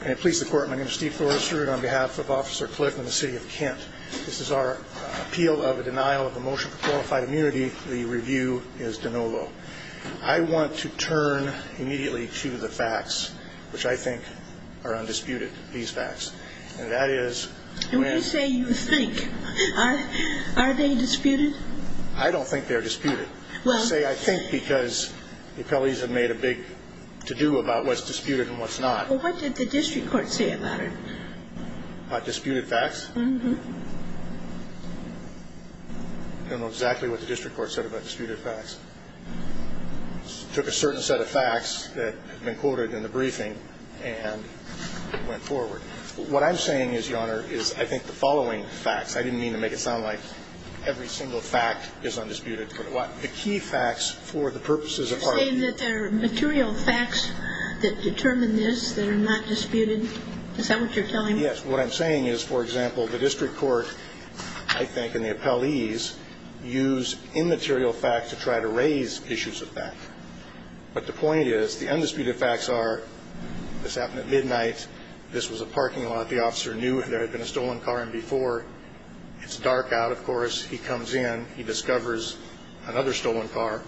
Can it please the Court, my name is Steve Forrester and on behalf of Officer Clift and the City of Kent, this is our appeal of a denial of a motion for qualified immunity. The review is de novo. I want to turn immediately to the facts, which I think are undisputed, these facts. And that is... When you say you think, are they disputed? I don't think they're disputed. I say I think because the appellees have made a big to-do about what's disputed and what's not. Well, what did the district court say about it? About disputed facts? Mm-hmm. I don't know exactly what the district court said about disputed facts. Took a certain set of facts that had been quoted in the briefing and went forward. What I'm saying is, Your Honor, is I think the following facts, I didn't mean to make it sound like every single fact is undisputed, but the key facts for the purposes of our appeal... Is that what you're telling me? Yes. What I'm saying is, for example, the district court, I think, and the appellees use immaterial facts to try to raise issues of fact. But the point is, the undisputed facts are, this happened at midnight, this was a parking lot, the officer knew there had been a stolen car in before. It's dark out, of course, he comes in, he discovers another stolen car,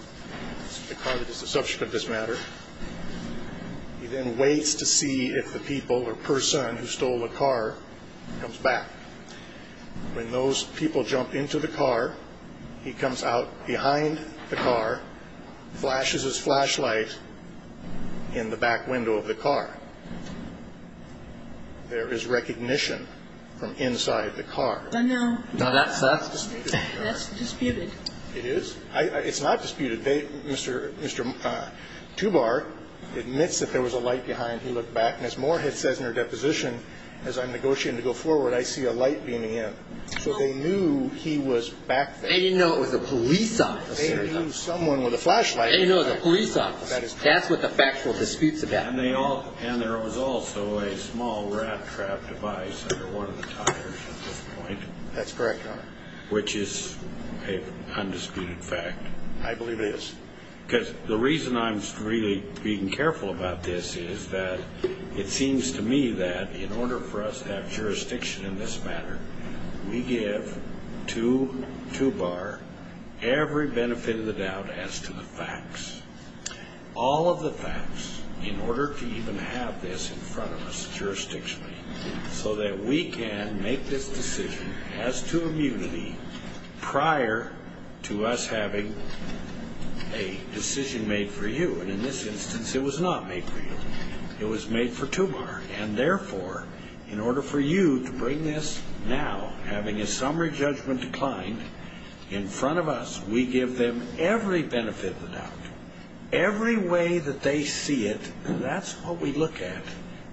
the car that is the subject of this matter. He then waits to see if the people or person who stole the car comes back. When those people jump into the car, he comes out behind the car, flashes his flashlight in the back window of the car. There is recognition from inside the car. But now... Now, that's disputed. That's disputed. It is? It's not disputed. Mr. Tubar admits that there was a light behind, he looked back, and as Moorhead says in her deposition, as I'm negotiating to go forward, I see a light beaming in. So they knew he was back there. They didn't know it was a police officer. They knew someone with a flashlight. They didn't know it was a police officer. That's what the factual disputes about. And there was also a small rat-trap device under one of the tires at this point. That's correct, Your Honor. Which is an undisputed fact. I believe it is. Because the reason I'm really being careful about this is that it seems to me that in order for us to have jurisdiction in this matter, we give to Tubar every benefit of the doubt as to the facts. All of the facts, in order to even have this in front of us jurisdictionally, so that we can make this decision as to immunity prior to us having a decision made for you. And in this instance, it was not made for you. It was made for Tubar. And therefore, in order for you to bring this now, having a summary judgment declined in front of us, we give them every benefit of the doubt. Every way that they see it. And that's what we look at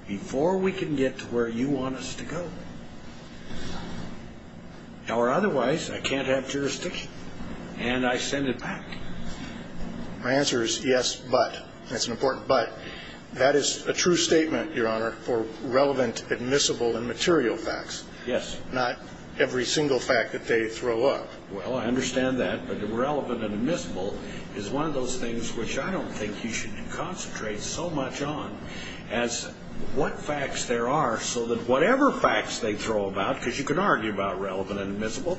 before we can get to where you want us to go. Or otherwise, I can't have jurisdiction. And I send it back to you. My answer is yes, but. That's an important but. That is a true statement, Your Honor, for relevant, admissible, and material facts. Yes. Not every single fact that they throw up. Well, I understand that. But relevant and admissible is one of those things which I don't think you should concentrate so much on, as what facts there are so that whatever facts they throw about, because you can argue about relevant and admissible,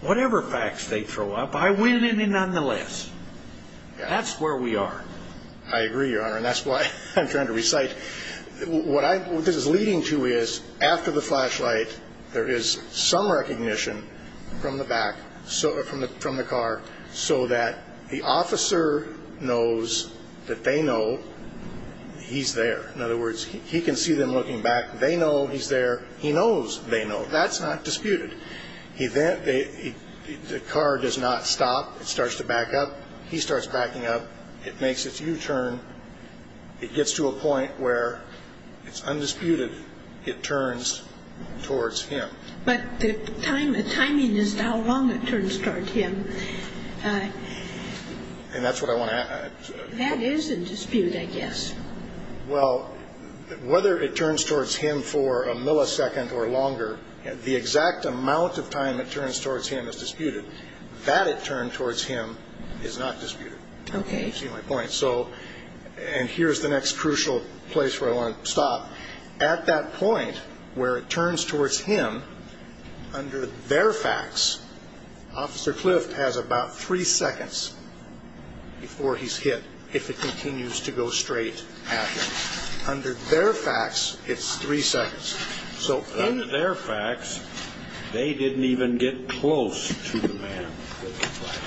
whatever facts they throw up, I win in it nonetheless. That's where we are. I agree, Your Honor. And that's why I'm trying to recite. What this is leading to is, after the flashlight, there is some recognition from the back, from the car, so that the officer knows that they know he's there. In other words, he can see them looking back. They know he's there. He knows they know. That's not disputed. The car does not stop. It starts to back up. He starts backing up. It makes its U-turn. It gets to a point where it's undisputed. It turns towards him. But the timing is how long it turns towards him. And that's what I want to ask. That is in dispute, I guess. Well, whether it turns towards him for a millisecond or longer, the exact amount of time it turns towards him is disputed. That it turned towards him is not disputed. Okay. I see my point. And here's the next crucial place where I want to stop. At that point where it turns towards him, under their facts, Officer Clift has about three seconds before he's hit, if it continues to go straight at him. Under their facts, it's three seconds. So in their facts, they didn't even get close to the man with the flashlight.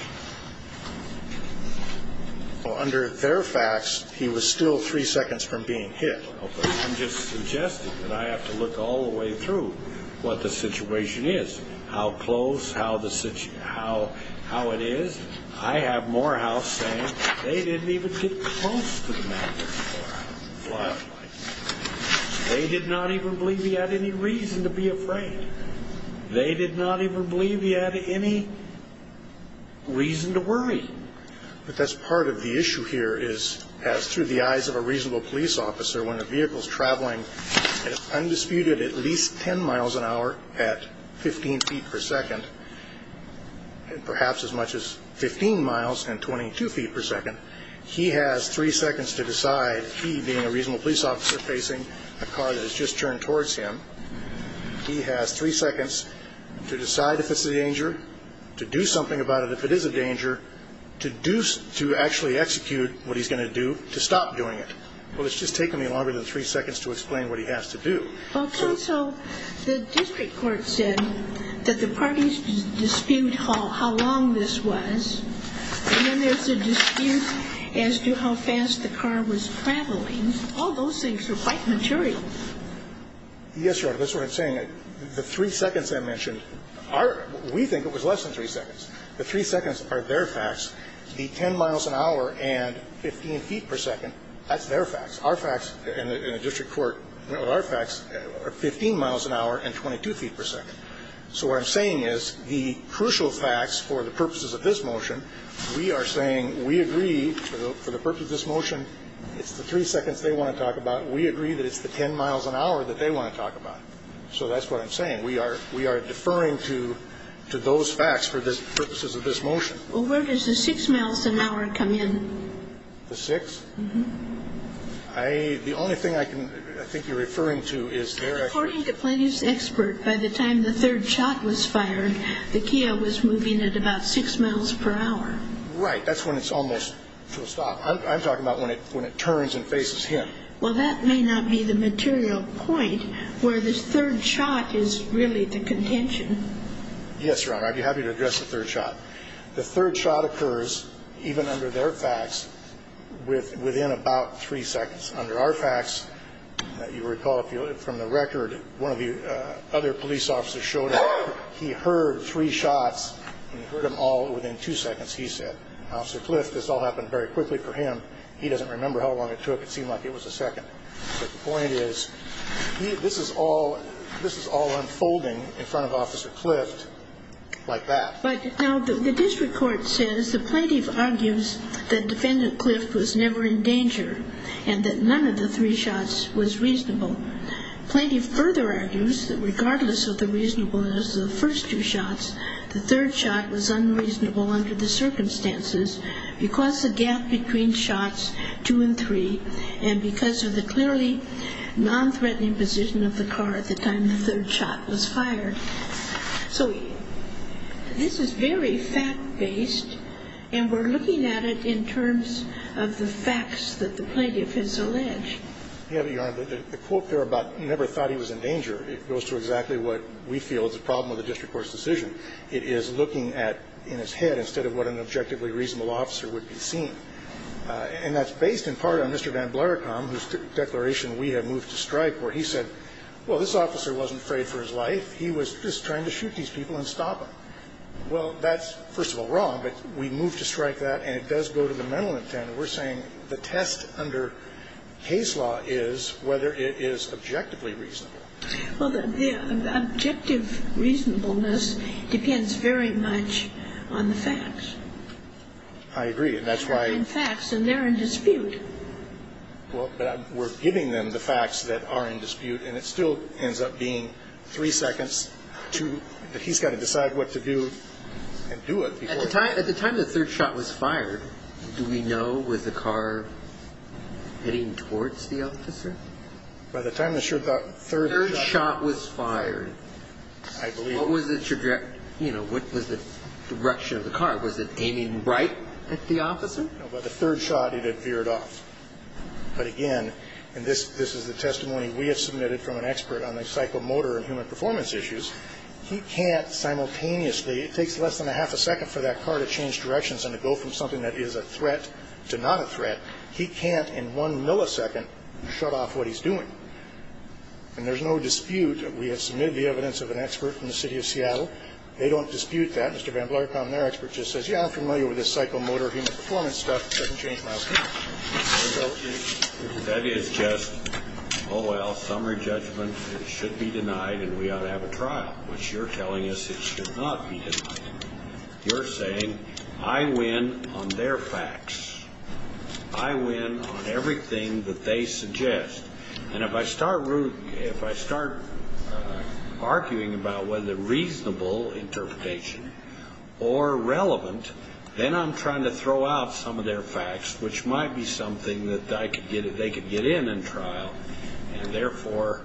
Under their facts, he was still three seconds from being hit. I'm just suggesting that I have to look all the way through what the situation is, how close, how it is. I have Morehouse saying they didn't even get close to the man with the flashlight. They did not even believe he had any reason to be afraid. They did not even believe he had any reason to worry. But that's part of the issue here is, as through the eyes of a reasonable police officer, when a vehicle's traveling at undisputed at least 10 miles an hour at 15 feet per second, perhaps as much as 15 miles and 22 feet per second, he has three seconds to decide, he being a reasonable police officer, facing a car that has just turned towards him. He has three seconds to decide if it's a danger, to do something about it if it is a danger, to actually execute what he's going to do to stop doing it. Well, it's just taken me longer than three seconds to explain what he has to do. Well, counsel, the district court said that the parties dispute how long this was, and then there's a dispute as to how fast the car was traveling. All those things are quite material. Yes, Your Honor, that's what I'm saying. The three seconds I mentioned, we think it was less than three seconds. The three seconds are their facts. The 10 miles an hour and 15 feet per second, that's their facts. Our facts in the district court, our facts are 15 miles an hour and 22 feet per second. So what I'm saying is the crucial facts for the purposes of this motion, we are saying we agree for the purpose of this motion, it's the three seconds they want to talk about, we agree that it's the 10 miles an hour that they want to talk about. So that's what I'm saying. We are deferring to those facts for the purposes of this motion. Well, where does the six miles an hour come in? The six? Uh-huh. The only thing I think you're referring to is there. According to Plaintiff's expert, by the time the third shot was fired, the Kia was moving at about six miles per hour. Right, that's when it's almost to a stop. I'm talking about when it turns and faces him. Well, that may not be the material point where the third shot is really the contention. Yes, Your Honor, I'd be happy to address the third shot. The third shot occurs, even under their facts, within about three seconds. Under our facts, you recall from the record, one of the other police officers showed that he heard three shots, and he heard them all within two seconds, he said. Officer Clift, this all happened very quickly for him. He doesn't remember how long it took. It seemed like it was a second. But the point is, this is all unfolding in front of Officer Clift like that. But now the district court says the plaintiff argues that Defendant Clift was never in danger and that none of the three shots was reasonable. Plaintiff further argues that regardless of the reasonableness of the first two shots, the third shot was unreasonable under the circumstances because the gap between shots, two and three, and because of the clearly nonthreatening position of the car at the time the third shot was fired. So this is very fact-based, and we're looking at it in terms of the facts that the plaintiff has alleged. Yeah, but, Your Honor, the quote there about never thought he was in danger, it goes to exactly what we feel is the problem with the district court's decision. It is looking at in his head instead of what an objectively reasonable officer would be seeing. And that's based in part on Mr. Van Blaricombe, whose declaration we have moved to strike, where he said, well, this officer wasn't afraid for his life. He was just trying to shoot these people and stop them. Well, that's, first of all, wrong, but we moved to strike that, and it does go to the mental intent. We're saying the test under case law is whether it is objectively reasonable. Well, the objective reasonableness depends very much on the facts. I agree, and that's why we're giving them the facts that are in dispute, and it still ends up being three seconds that he's got to decide what to do and do it. At the time the third shot was fired, do we know, was the car heading towards the officer? By the time the third shot was fired, I believe. What was the direction of the car? Was it aiming right at the officer? No, by the third shot, it had veered off. But again, and this is the testimony we have submitted from an expert on the psychomotor and human performance issues, he can't simultaneously, it takes less than a half a second for that car to change directions and to go from something that is a threat to not a threat, he can't in one millisecond shut off what he's doing. And there's no dispute. We have submitted the evidence of an expert from the city of Seattle. They don't dispute that. Yeah, I'm familiar with this psychomotor and human performance stuff. It doesn't change my understanding. That is just, oh, well, summary judgment. It should be denied and we ought to have a trial, which you're telling us it should not be denied. You're saying I win on their facts. I win on everything that they suggest. And if I start arguing about whether reasonable interpretation or relevant, then I'm trying to throw out some of their facts, which might be something that they could get in and trial, and therefore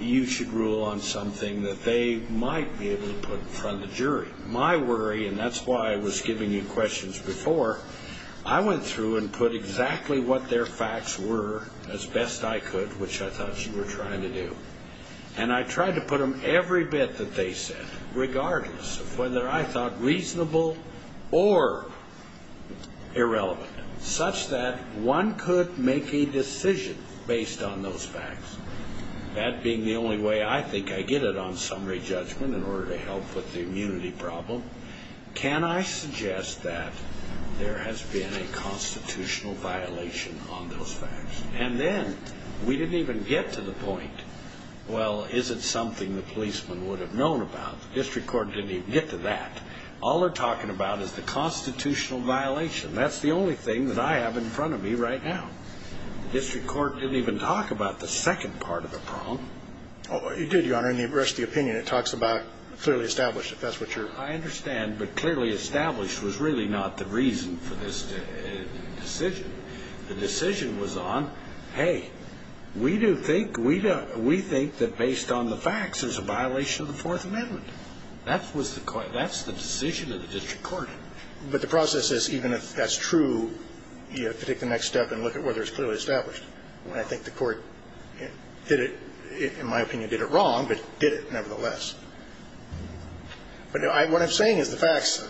you should rule on something that they might be able to put in front of the jury. My worry, and that's why I was giving you questions before, I went through and put exactly what their facts were as best I could, which I thought you were trying to do. And I tried to put them every bit that they said, regardless of whether I thought reasonable or irrelevant, such that one could make a decision based on those facts. That being the only way I think I get it on summary judgment in order to help with the immunity problem. Can I suggest that there has been a constitutional violation on those facts? And then we didn't even get to the point, well, is it something the policeman would have known about? The district court didn't even get to that. All they're talking about is the constitutional violation. That's the only thing that I have in front of me right now. The district court didn't even talk about the second part of the problem. It did, Your Honor, in the rest of the opinion. It talks about clearly established, if that's what you're. I understand. But clearly established was really not the reason for this decision. The decision was on, hey, we do think, we think that based on the facts there's a violation of the Fourth Amendment. That was the, that's the decision of the district court. But the process is, even if that's true, you have to take the next step and look at whether it's clearly established. And I think the court did it, in my opinion, did it wrong, but did it nevertheless. But I, what I'm saying is the facts,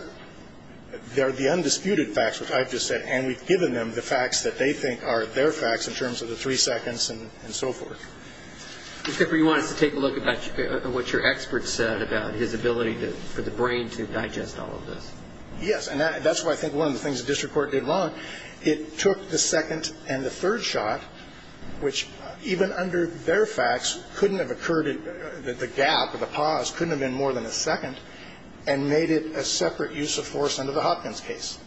they're the undisputed facts, which I've just said, and we've given them the facts that they think are their facts in terms of the three seconds and so forth. Mr. Cooper, you want us to take a look about what your expert said about his ability to, for the brain to digest all of this? Yes. And that's why I think one of the things the district court did wrong, it took the second and the third shot, which even under their facts couldn't have occurred, the gap or the pause couldn't have been more than a second, and made it a separate use of force under the Hopkins case.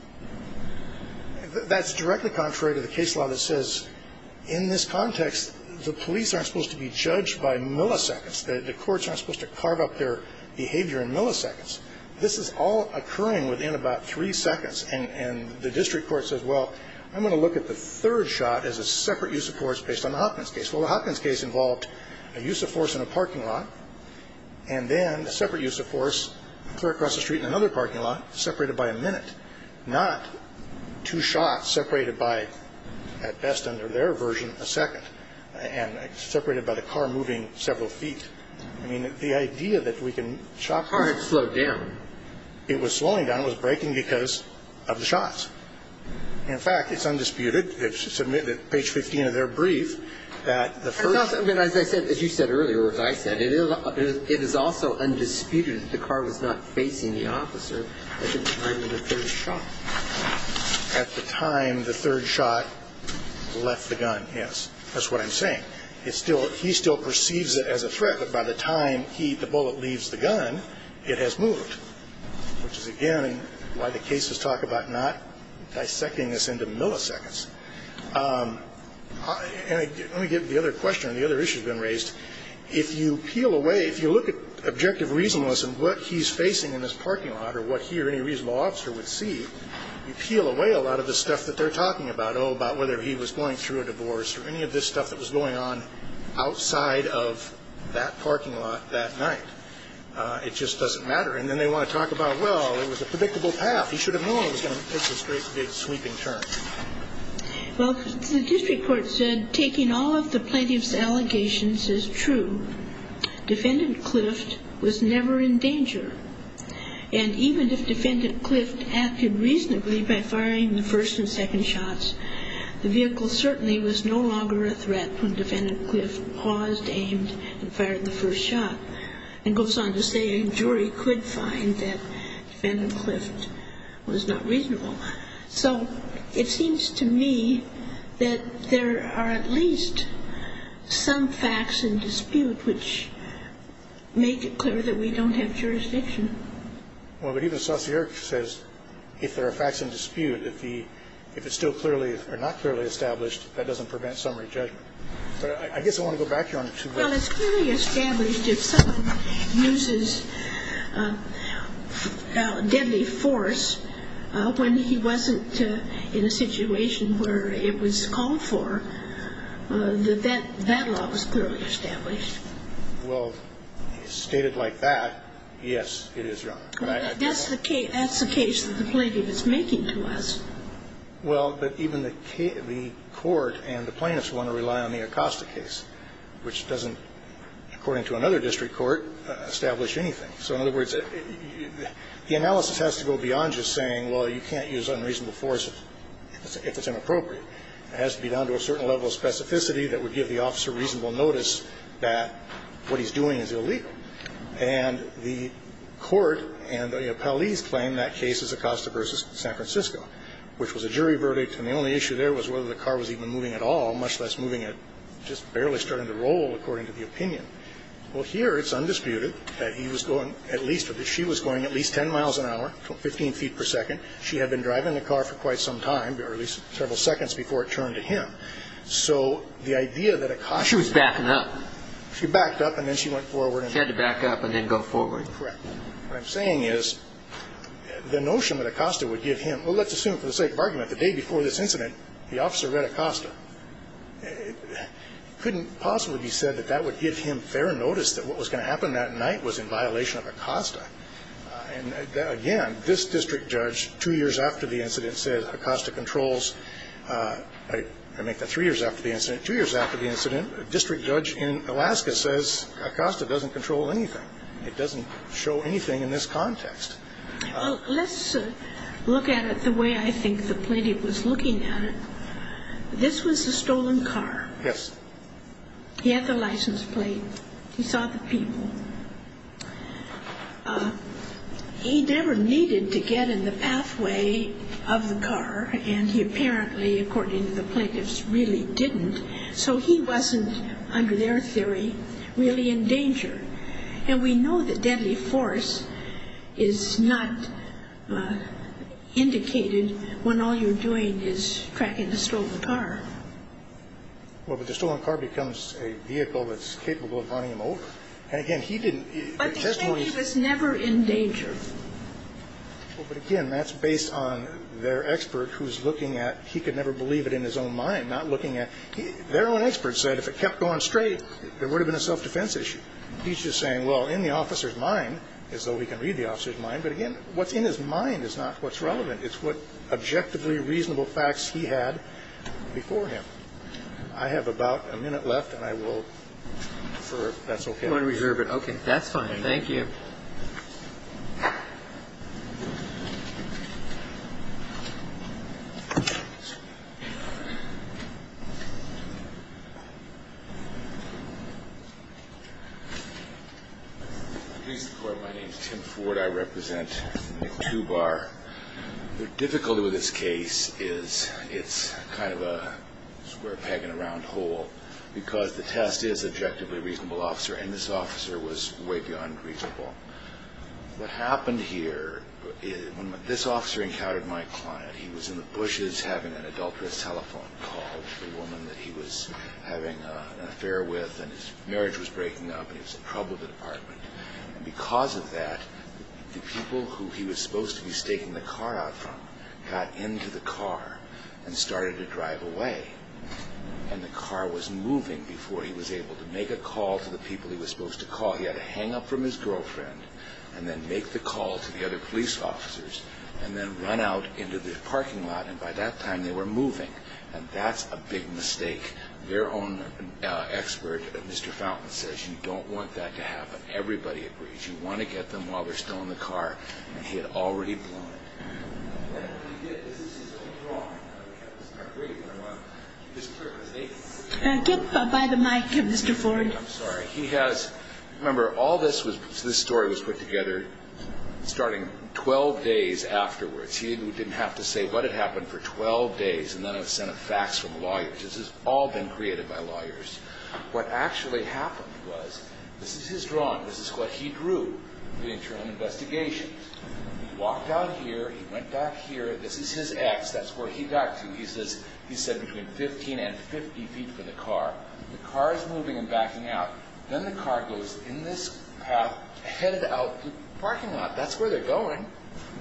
That's directly contrary to the case law that says, in this context, the police aren't supposed to be judged by milliseconds. The courts aren't supposed to carve up their behavior in milliseconds. This is all occurring within about three seconds. And the district court says, well, I'm going to look at the third shot as a separate use of force based on the Hopkins case. Well, the Hopkins case involved a use of force in a parking lot, and then a separate use of force across the street in another parking lot, separated by a minute, not two shots separated by, at best under their version, a second, and separated by the car moving several feet. I mean, the idea that we can chop it. The car had slowed down. It was slowing down. The gun was breaking because of the shots. In fact, it's undisputed. It's admitted, page 15 of their brief, that the first. I mean, as you said earlier, or as I said, it is also undisputed that the car was not facing the officer at the time of the third shot. At the time the third shot left the gun, yes. That's what I'm saying. He still perceives it as a threat, but by the time the bullet leaves the gun, it has moved, which is, again, why the cases talk about not dissecting this into milliseconds. And let me get to the other question, the other issue that's been raised. If you peel away, if you look at objective reasonableness and what he's facing in this parking lot or what he or any reasonable officer would see, you peel away a lot of the stuff that they're talking about, oh, about whether he was going through a divorce or any of this stuff that was going on outside of that parking lot that night. It just doesn't matter. And then they want to talk about, well, it was a predictable path. He should have known it was going to take this great big sweeping turn. Well, the district court said taking all of the plaintiff's allegations is true. Defendant Clift was never in danger. And even if Defendant Clift acted reasonably by firing the first and second shots, the vehicle certainly was no longer a threat when Defendant Clift paused, aimed, and fired the first shot. And goes on to say a jury could find that Defendant Clift was not reasonable. So it seems to me that there are at least some facts in dispute which make it clear that we don't have jurisdiction. Well, but even Saussure says if there are facts in dispute, if it's still clearly or not clearly established, that doesn't prevent summary judgment. But I guess I want to go back here on it. Well, it's clearly established if someone uses deadly force when he wasn't in a situation where it was called for, that that law was clearly established. Well, stated like that, yes, it is wrong. That's the case that the plaintiff is making to us. Well, but even the court and the plaintiffs want to rely on the Acosta case, which doesn't, according to another district court, establish anything. So in other words, the analysis has to go beyond just saying, well, you can't use unreasonable force if it's inappropriate. It has to be down to a certain level of specificity that would give the officer reasonable notice that what he's doing is illegal. And the court and the appellees claim that case is Acosta v. San Francisco, which was a jury verdict. And the only issue there was whether the car was even moving at all, much less moving and just barely starting to roll, according to the opinion. Well, here it's undisputed that he was going at least, that she was going at least 10 miles an hour, 15 feet per second. She had been driving the car for quite some time, or at least several seconds before it turned to him. So the idea that Acosta was backing up, she backed up and then she went forward. She had to back up and then go forward. Correct. What I'm saying is the notion that Acosta would give him, well, let's assume for the sake of argument, the day before this incident the officer read Acosta. It couldn't possibly be said that that would give him fair notice that what was going to happen that night was in violation of Acosta. And, again, this district judge, two years after the incident, says Acosta controls, I make that three years after the incident, two years after the incident, a district judge in Alaska says Acosta doesn't control anything. It doesn't show anything in this context. Let's look at it the way I think the plaintiff was looking at it. This was a stolen car. Yes. He had the license plate. He saw the people. He never needed to get in the pathway of the car, and he apparently, according to the plaintiffs, really didn't. So he wasn't, under their theory, really in danger. And we know that deadly force is not indicated when all you're doing is tracking a stolen car. Well, but the stolen car becomes a vehicle that's capable of running him over. And, again, he didn't. But the safety was never in danger. Well, but, again, that's based on their expert who's looking at, he could never believe it in his own mind, not looking at. Their own expert said if it kept going straight, there would have been a self-defense issue. He's just saying, well, in the officer's mind, as though he can read the officer's mind. But, again, what's in his mind is not what's relevant. It's what objectively reasonable facts he had before him. I have about a minute left, and I will defer if that's okay. You want to reserve it? Okay, that's fine. Thank you. Please report. My name is Tim Ford. I represent McTubar. The difficulty with this case is it's kind of a square peg in a round hole because the test is objectively reasonable, Officer, and this officer was way beyond reasonable. What happened here, when this officer encountered my client, he was in the bushes having an adulterous telephone call to the woman that he was having an affair with, and his marriage was breaking up, and he was in trouble with the department. Because of that, the people who he was supposed to be staking the car out from got into the car and started to drive away, and the car was moving before he was able to make a call to the people he was supposed to call. He had to hang up from his girlfriend and then make the call to the other police officers and then run out into the parking lot, and by that time they were moving. And that's a big mistake. Their own expert, Mr. Fountain, says you don't want that to happen. Everybody agrees. You want to get them while they're still in the car. And he had already done it. Get by the mic, Mr. Ford. I'm sorry. Remember, all this story was put together starting 12 days afterwards. He didn't have to say what had happened for 12 days, and none of it sent a fax from a lawyer. This has all been created by lawyers. What actually happened was, this is his drawing. This is what he drew for the internal investigations. He walked out here. He went back here. This is his ex. That's where he got to. He said between 15 and 50 feet from the car. The car is moving and backing out. Then the car goes in this path, headed out the parking lot. That's where they're going.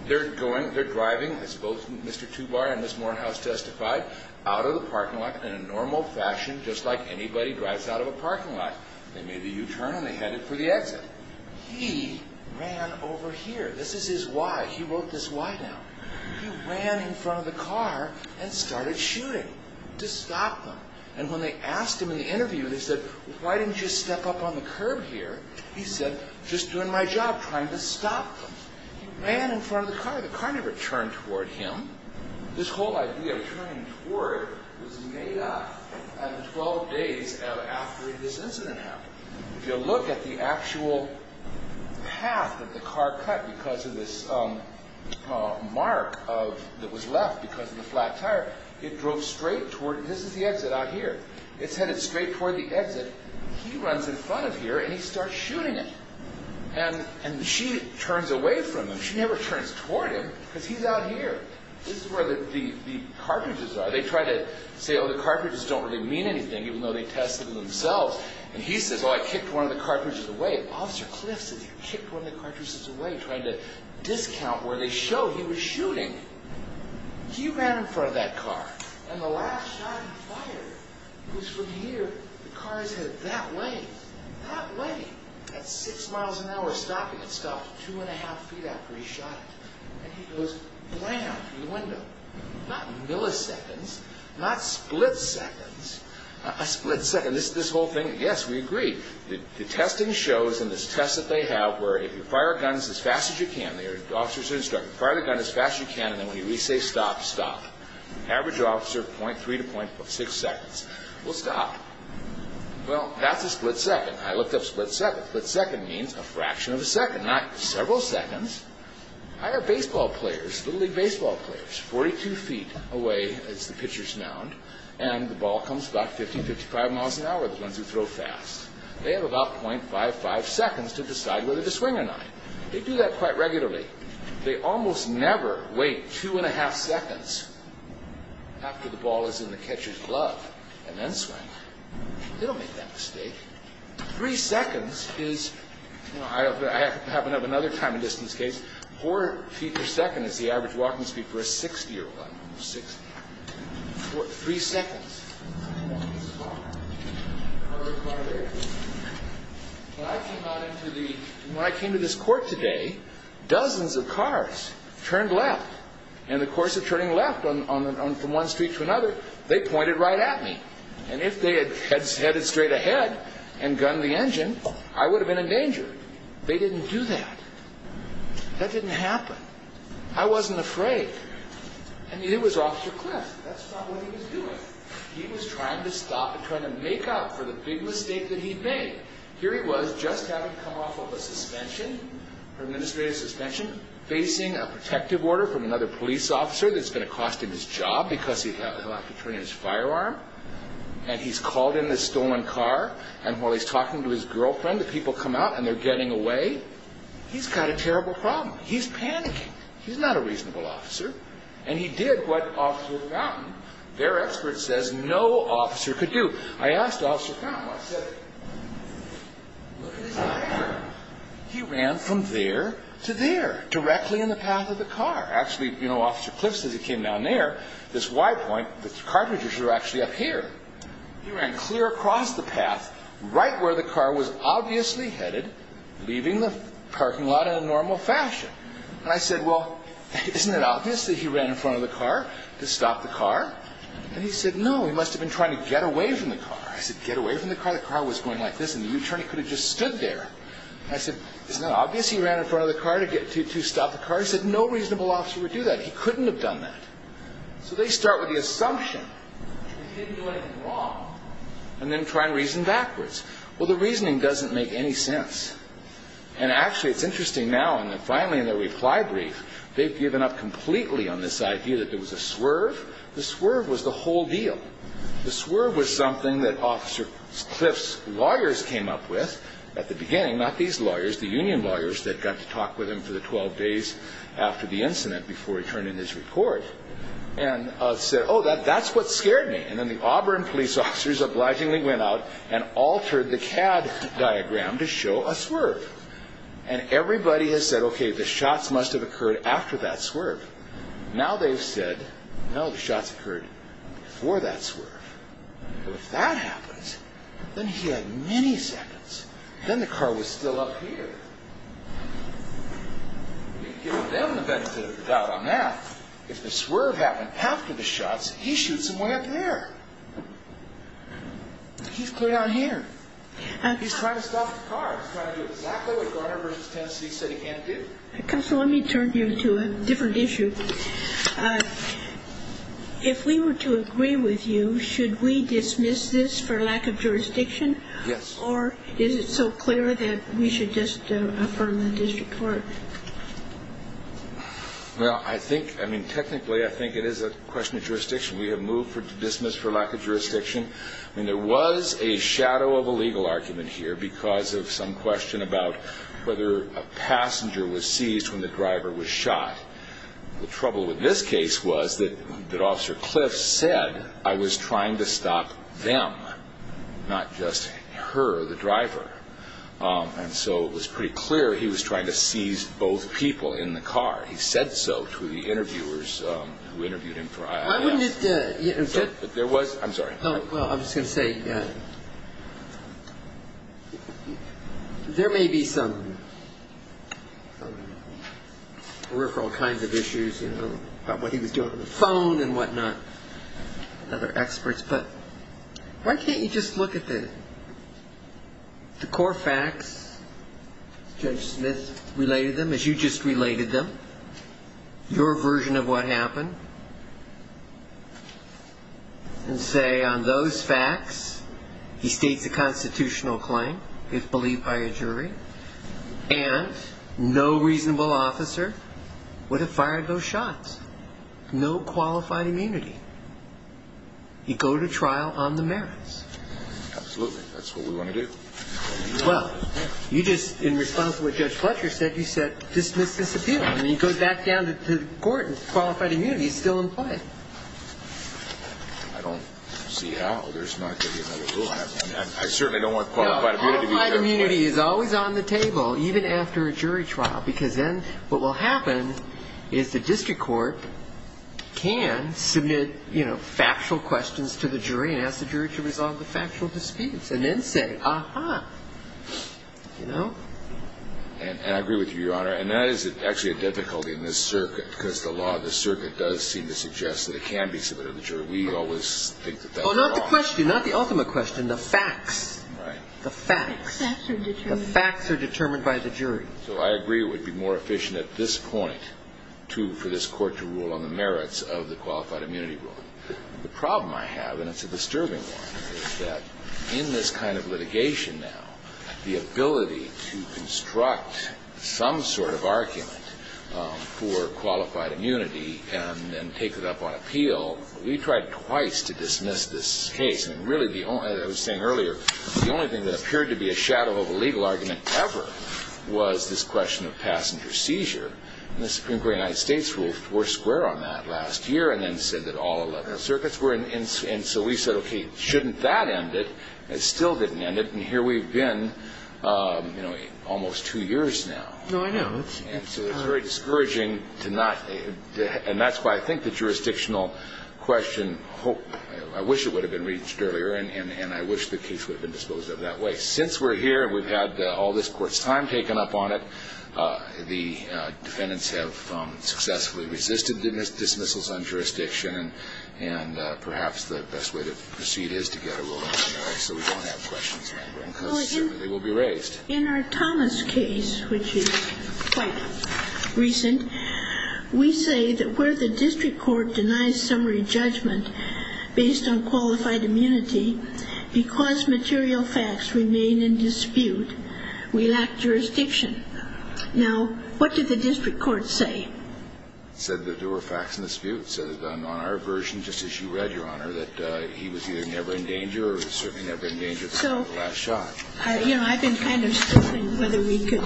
They're going. They're driving. I suppose Mr. Tubar and Ms. Morehouse testified. Out of the parking lot in a normal fashion, just like anybody drives out of a parking lot. They made the U-turn, and they headed for the exit. He ran over here. This is his why. He wrote this why down. He ran in front of the car and started shooting to stop them. And when they asked him in the interview, they said, why didn't you step up on the curb here? He said, just doing my job, trying to stop them. He ran in front of the car. The car never turned toward him. This whole idea of turning toward was made up 12 days after this incident happened. If you look at the actual path that the car cut because of this mark that was left because of the flat tire, it drove straight toward. This is the exit out here. It's headed straight toward the exit. He runs in front of here, and he starts shooting it. And she turns away from him. She never turns toward him because he's out here. This is where the cartridges are. They try to say, oh, the cartridges don't really mean anything, even though they tested them themselves. And he says, oh, I kicked one of the cartridges away. Officer Clift said he kicked one of the cartridges away, trying to discount where they show he was shooting. He ran in front of that car, and the last shot he fired was from here. The car is headed that way, that way. At 6 miles an hour stopping, it stopped 2 1⁄2 feet after he shot it. And he goes, blam, through the window. Not milliseconds, not split seconds. A split second. This whole thing, yes, we agree. The testing shows, and this test that they have, where if you fire a gun as fast as you can, the officers instruct, fire the gun as fast as you can, and then when you say stop, stop. Average officer, 0.3 to 0.6 seconds. Well, stop. Well, that's a split second. I looked up split seconds. Split second means a fraction of a second, not several seconds. I have baseball players, little league baseball players, 42 feet away, as the pitchers mound, and the ball comes about 15, 55 miles an hour, the ones who throw fast. They have about 0.55 seconds to decide whether to swing or not. They do that quite regularly. They almost never wait 2 1⁄2 seconds after the ball is in the catcher's glove, and then swing. They don't make that mistake. Three seconds is, I happen to have another time and distance case, four feet per second is the average walking speed for a 60-year-old. Three seconds. When I came to this court today, dozens of cars turned left, and in the course of turning left from one street to another, they pointed right at me. And if they had headed straight ahead and gunned the engine, I would have been in danger. They didn't do that. That didn't happen. I wasn't afraid. And it was Officer Cliff. That's not what he was doing. He was trying to stop and trying to make up for the big mistake that he'd made. Here he was, just having come off of a suspension, an administrative suspension, facing a protective order from another police officer that's going to cost him his job because he'll have to turn in his firearm. And he's called in this stolen car, and while he's talking to his girlfriend, the people come out and they're getting away. He's got a terrible problem. He's panicking. He's not a reasonable officer. And he did what Officer Fountain, their expert, says no officer could do. I asked Officer Fountain what he said. Look at his eyes. He ran from there to there, directly in the path of the car. Actually, Officer Cliff says he came down there. This Y point, the cartridges were actually up here. He ran clear across the path, right where the car was obviously headed, leaving the parking lot in a normal fashion. And I said, well, isn't it obvious that he ran in front of the car to stop the car? And he said, no, he must have been trying to get away from the car. I said, get away from the car? The car was going like this, and the attorney could have just stood there. And I said, isn't it obvious he ran in front of the car to stop the car? He said, no reasonable officer would do that. He couldn't have done that. So they start with the assumption that he didn't do anything wrong, and then try and reason backwards. Well, the reasoning doesn't make any sense. And actually, it's interesting now, and finally in the reply brief, they've given up completely on this idea that there was a swerve. The swerve was the whole deal. Not these lawyers, the union lawyers that got to talk with him for the 12 days after the incident before he turned in his report, and said, oh, that's what scared me. And then the Auburn police officers obligingly went out and altered the CAD diagram to show a swerve. And everybody has said, okay, the shots must have occurred after that swerve. Now they've said, no, the shots occurred before that swerve. So if that happens, then he had many seconds. Then the car was still up here. We've given them the benefit of the doubt on that. If the swerve happened after the shots, he shoots someone up there. He's clear down here. He's trying to stop the car. He's trying to do exactly what Garner v. Tennessee said he can't do. Counsel, let me turn you to a different issue. If we were to agree with you, should we dismiss this for lack of jurisdiction? Yes. Or is it so clear that we should just affirm the district court? Well, I think, I mean, technically I think it is a question of jurisdiction. We have moved to dismiss for lack of jurisdiction. I mean, there was a shadow of a legal argument here because of some question about whether a passenger was seized when the driver was shot. The trouble with this case was that Officer Cliff said I was trying to stop them, not just her, the driver. And so it was pretty clear he was trying to seize both people in the car. He said so to the interviewers who interviewed him for IIS. I'm sorry. Well, I'm just going to say there may be some peripheral kinds of issues, you know, about what he was doing on the phone and whatnot, other experts. But why can't you just look at the core facts, Judge Smith related them as you just related them, your version of what happened, and say on those facts he states a constitutional claim, if believed by a jury, and no reasonable officer would have fired those shots. No qualified immunity. He'd go to trial on the merits. Absolutely. That's what we want to do. Well, you just, in response to what Judge Fletcher said, you said dismiss this appeal. I mean, he goes back down to court and qualified immunity is still in play. I don't see how. There's not going to be another ruling on that. I certainly don't want qualified immunity. Qualified immunity is always on the table, even after a jury trial, because then what will happen is the district court can submit, you know, factual questions to the jury and ask the jury to resolve the factual disputes, and then say, ah-ha, you know. And I agree with you, Your Honor. And that is actually a difficulty in this circuit, because the law of the circuit does seem to suggest that it can be submitted to the jury. We always think that that's wrong. Oh, not the question, not the ultimate question, the facts. The facts. The facts are determined. The facts are determined by the jury. So I agree it would be more efficient at this point, too, for this Court to rule on the merits of the qualified immunity ruling. The problem I have, and it's a disturbing one, is that in this kind of litigation now, the ability to construct some sort of argument for qualified immunity and then take it up on appeal, we tried twice to dismiss this case. And really the only – as I was saying earlier, the only thing that appeared to be a shadow of a legal argument ever was this question of passenger seizure. And the Supreme Court of the United States ruled four square on that last year and then said that all 11 circuits were. And so we said, okay, shouldn't that end it? It still didn't end it. And here we've been, you know, almost two years now. No, I know. And so it's very discouraging to not – and that's why I think the jurisdictional question – I wish it would have been reached earlier, and I wish the case would have been disposed of that way. Since we're here and we've had all this Court's time taken up on it, the defendants have successfully resisted dismissals on jurisdiction, and perhaps the best way to proceed is to get a ruling on the merits so we don't have questions, because they will be raised. In our Thomas case, which is quite recent, we say that where the district court denies summary judgment based on qualified immunity, because material facts remain in dispute, we lack jurisdiction. Now, what did the district court say? It said that there were facts in dispute. It said on our version, just as you read, Your Honor, that he was either never in danger or certainly never in danger of the last shot. So, you know, I've been kind of struggling whether we could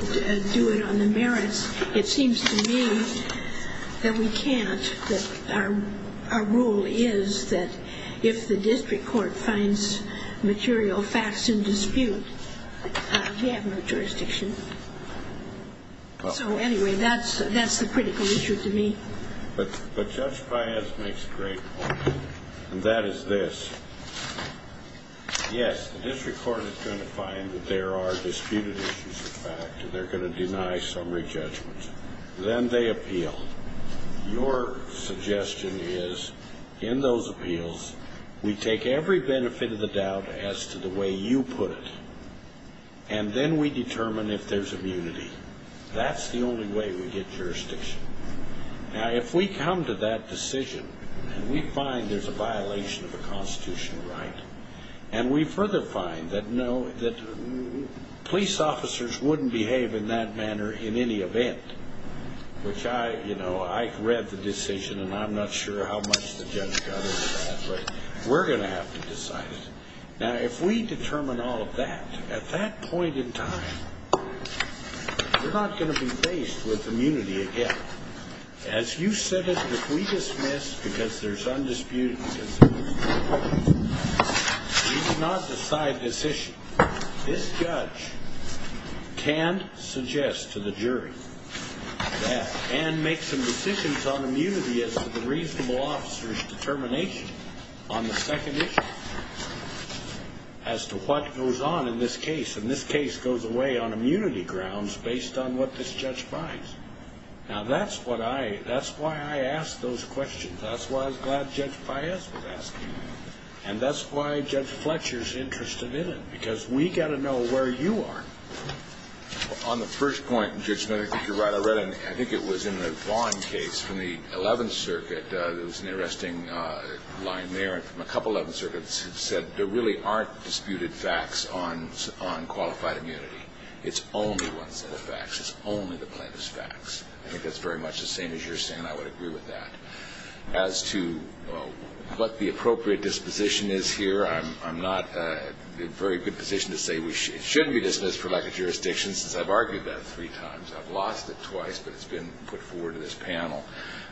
do it on the merits. It seems to me that we can't, that our rule is that if the district court finds material facts in dispute, we have no jurisdiction. So, anyway, that's the critical issue to me. But Judge Paez makes a great point, and that is this. Yes, the district court is going to find that there are disputed issues of fact, and they're going to deny summary judgment. Then they appeal. Your suggestion is, in those appeals, we take every benefit of the doubt as to the way you put it, and then we determine if there's immunity. That's the only way we get jurisdiction. Now, if we come to that decision, and we find there's a violation of a constitutional right, and we further find that police officers wouldn't behave in that manner in any event, which I, you know, I read the decision, and I'm not sure how much the judge got over that, but we're going to have to decide it. Now, if we determine all of that at that point in time, we're not going to be faced with immunity again. As you said it, if we dismiss because there's undisputed issues, we do not decide this issue. This judge can suggest to the jury that, and make some decisions on immunity as to the reasonable officer's determination on the second issue as to what goes on in this case, and this case goes away on immunity grounds based on what this judge finds. Now, that's what I, that's why I asked those questions. That's why I was glad Judge Paez was asking them. And that's why Judge Fletcher's interested in it, because we've got to know where you are. On the first point, Judge, I think you're right. I read it, and I think it was in the Vaughn case from the 11th Circuit. There was an interesting line there from a couple of 11th Circuits that said there really aren't disputed facts on qualified immunity. It's only one set of facts. It's only the plaintiff's facts. I think that's very much the same as you're saying, and I would agree with that. As to what the appropriate disposition is here, I'm not in a very good position to say it shouldn't be dismissed for lack of jurisdiction, since I've argued that three times. I've lost it twice, but it's been put forward to this panel.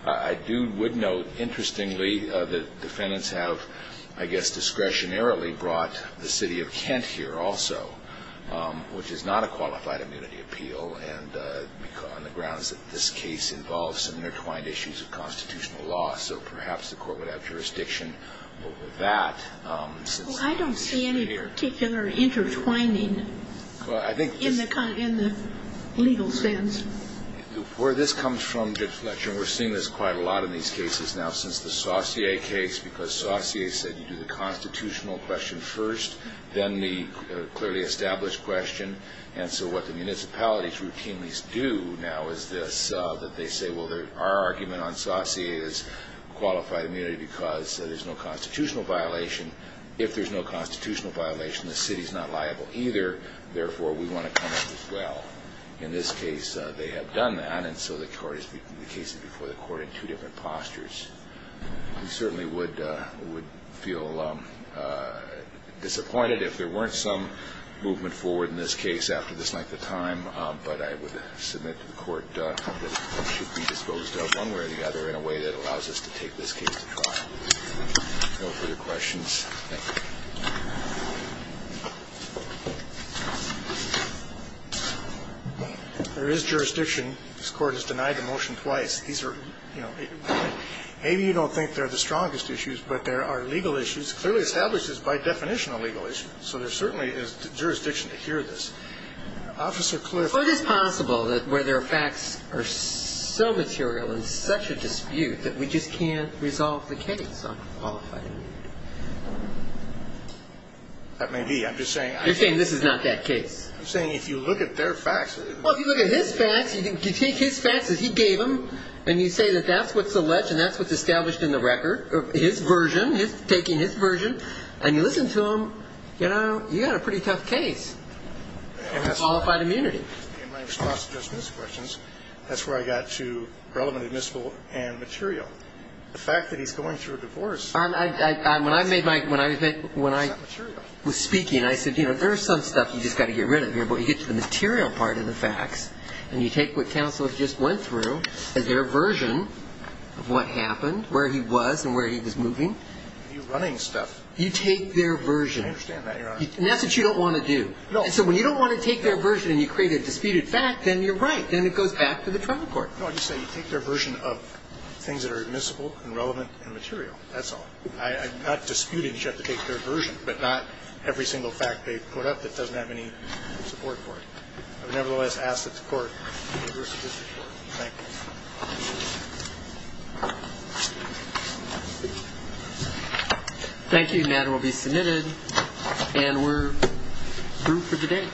I do, would note, interestingly, that defendants have, I guess, discretionarily brought the city of Kent here also, which is not a qualified immunity appeal, on the grounds that this case involves some intertwined issues of constitutional law. So perhaps the court would have jurisdiction over that. Well, I don't see any particular intertwining in the legal sense. Where this comes from, Judge Fletcher, and we're seeing this quite a lot in these cases now since the Saussure case, because Saussure said you do the constitutional question first, then the clearly established question, and so what the municipalities routinely do now is this, that they say, well, our argument on Saussure is qualified immunity because there's no constitutional violation. If there's no constitutional violation, the city's not liable either. Therefore, we want to come up as well. In this case, they have done that, and so the case is before the court in two different postures. We certainly would feel disappointed if there weren't some movement forward in this case after this length of time, but I would submit to the court that it should be disposed of one way or the other in a way that allows us to take this case to trial. No further questions? Thank you. There is jurisdiction. This Court has denied the motion twice. These are, you know, maybe you don't think they're the strongest issues, but there are legal issues. It clearly establishes by definition a legal issue, so there certainly is jurisdiction to hear this. Officer Cliff. But it is possible that where there are facts that are so material in such a dispute that we just can't resolve the case on qualified immunity. That may be. I'm just saying. You're saying this is not that case. I'm saying if you look at their facts. Well, if you look at his facts, you take his facts that he gave them and you say that that's what's alleged and that's what's established in the record, his version, he's taking his version, and you listen to him, you know, you've got a pretty tough case on qualified immunity. In my response to Justice's questions, that's where I got to relevant, admissible, and material. The fact that he's going through a divorce. When I was speaking, I said, you know, there is some stuff you've just got to get rid of here, but you get to the material part of the facts, and you take what counsel just went through as their version of what happened, where he was and where he was moving. You're running stuff. You take their version. I understand that, Your Honor. And that's what you don't want to do. No. So when you don't want to take their version and you create a disputed fact, then you're right. Then it goes back to the trial court. No, I'm just saying you take their version of things that are admissible and relevant and material. That's all. I'm not disputing that you have to take their version, but not every single fact they put up that doesn't have any support for it. I would nevertheless ask that the court review this report. Thank you. Thank you. The matter will be submitted. And we're through for today.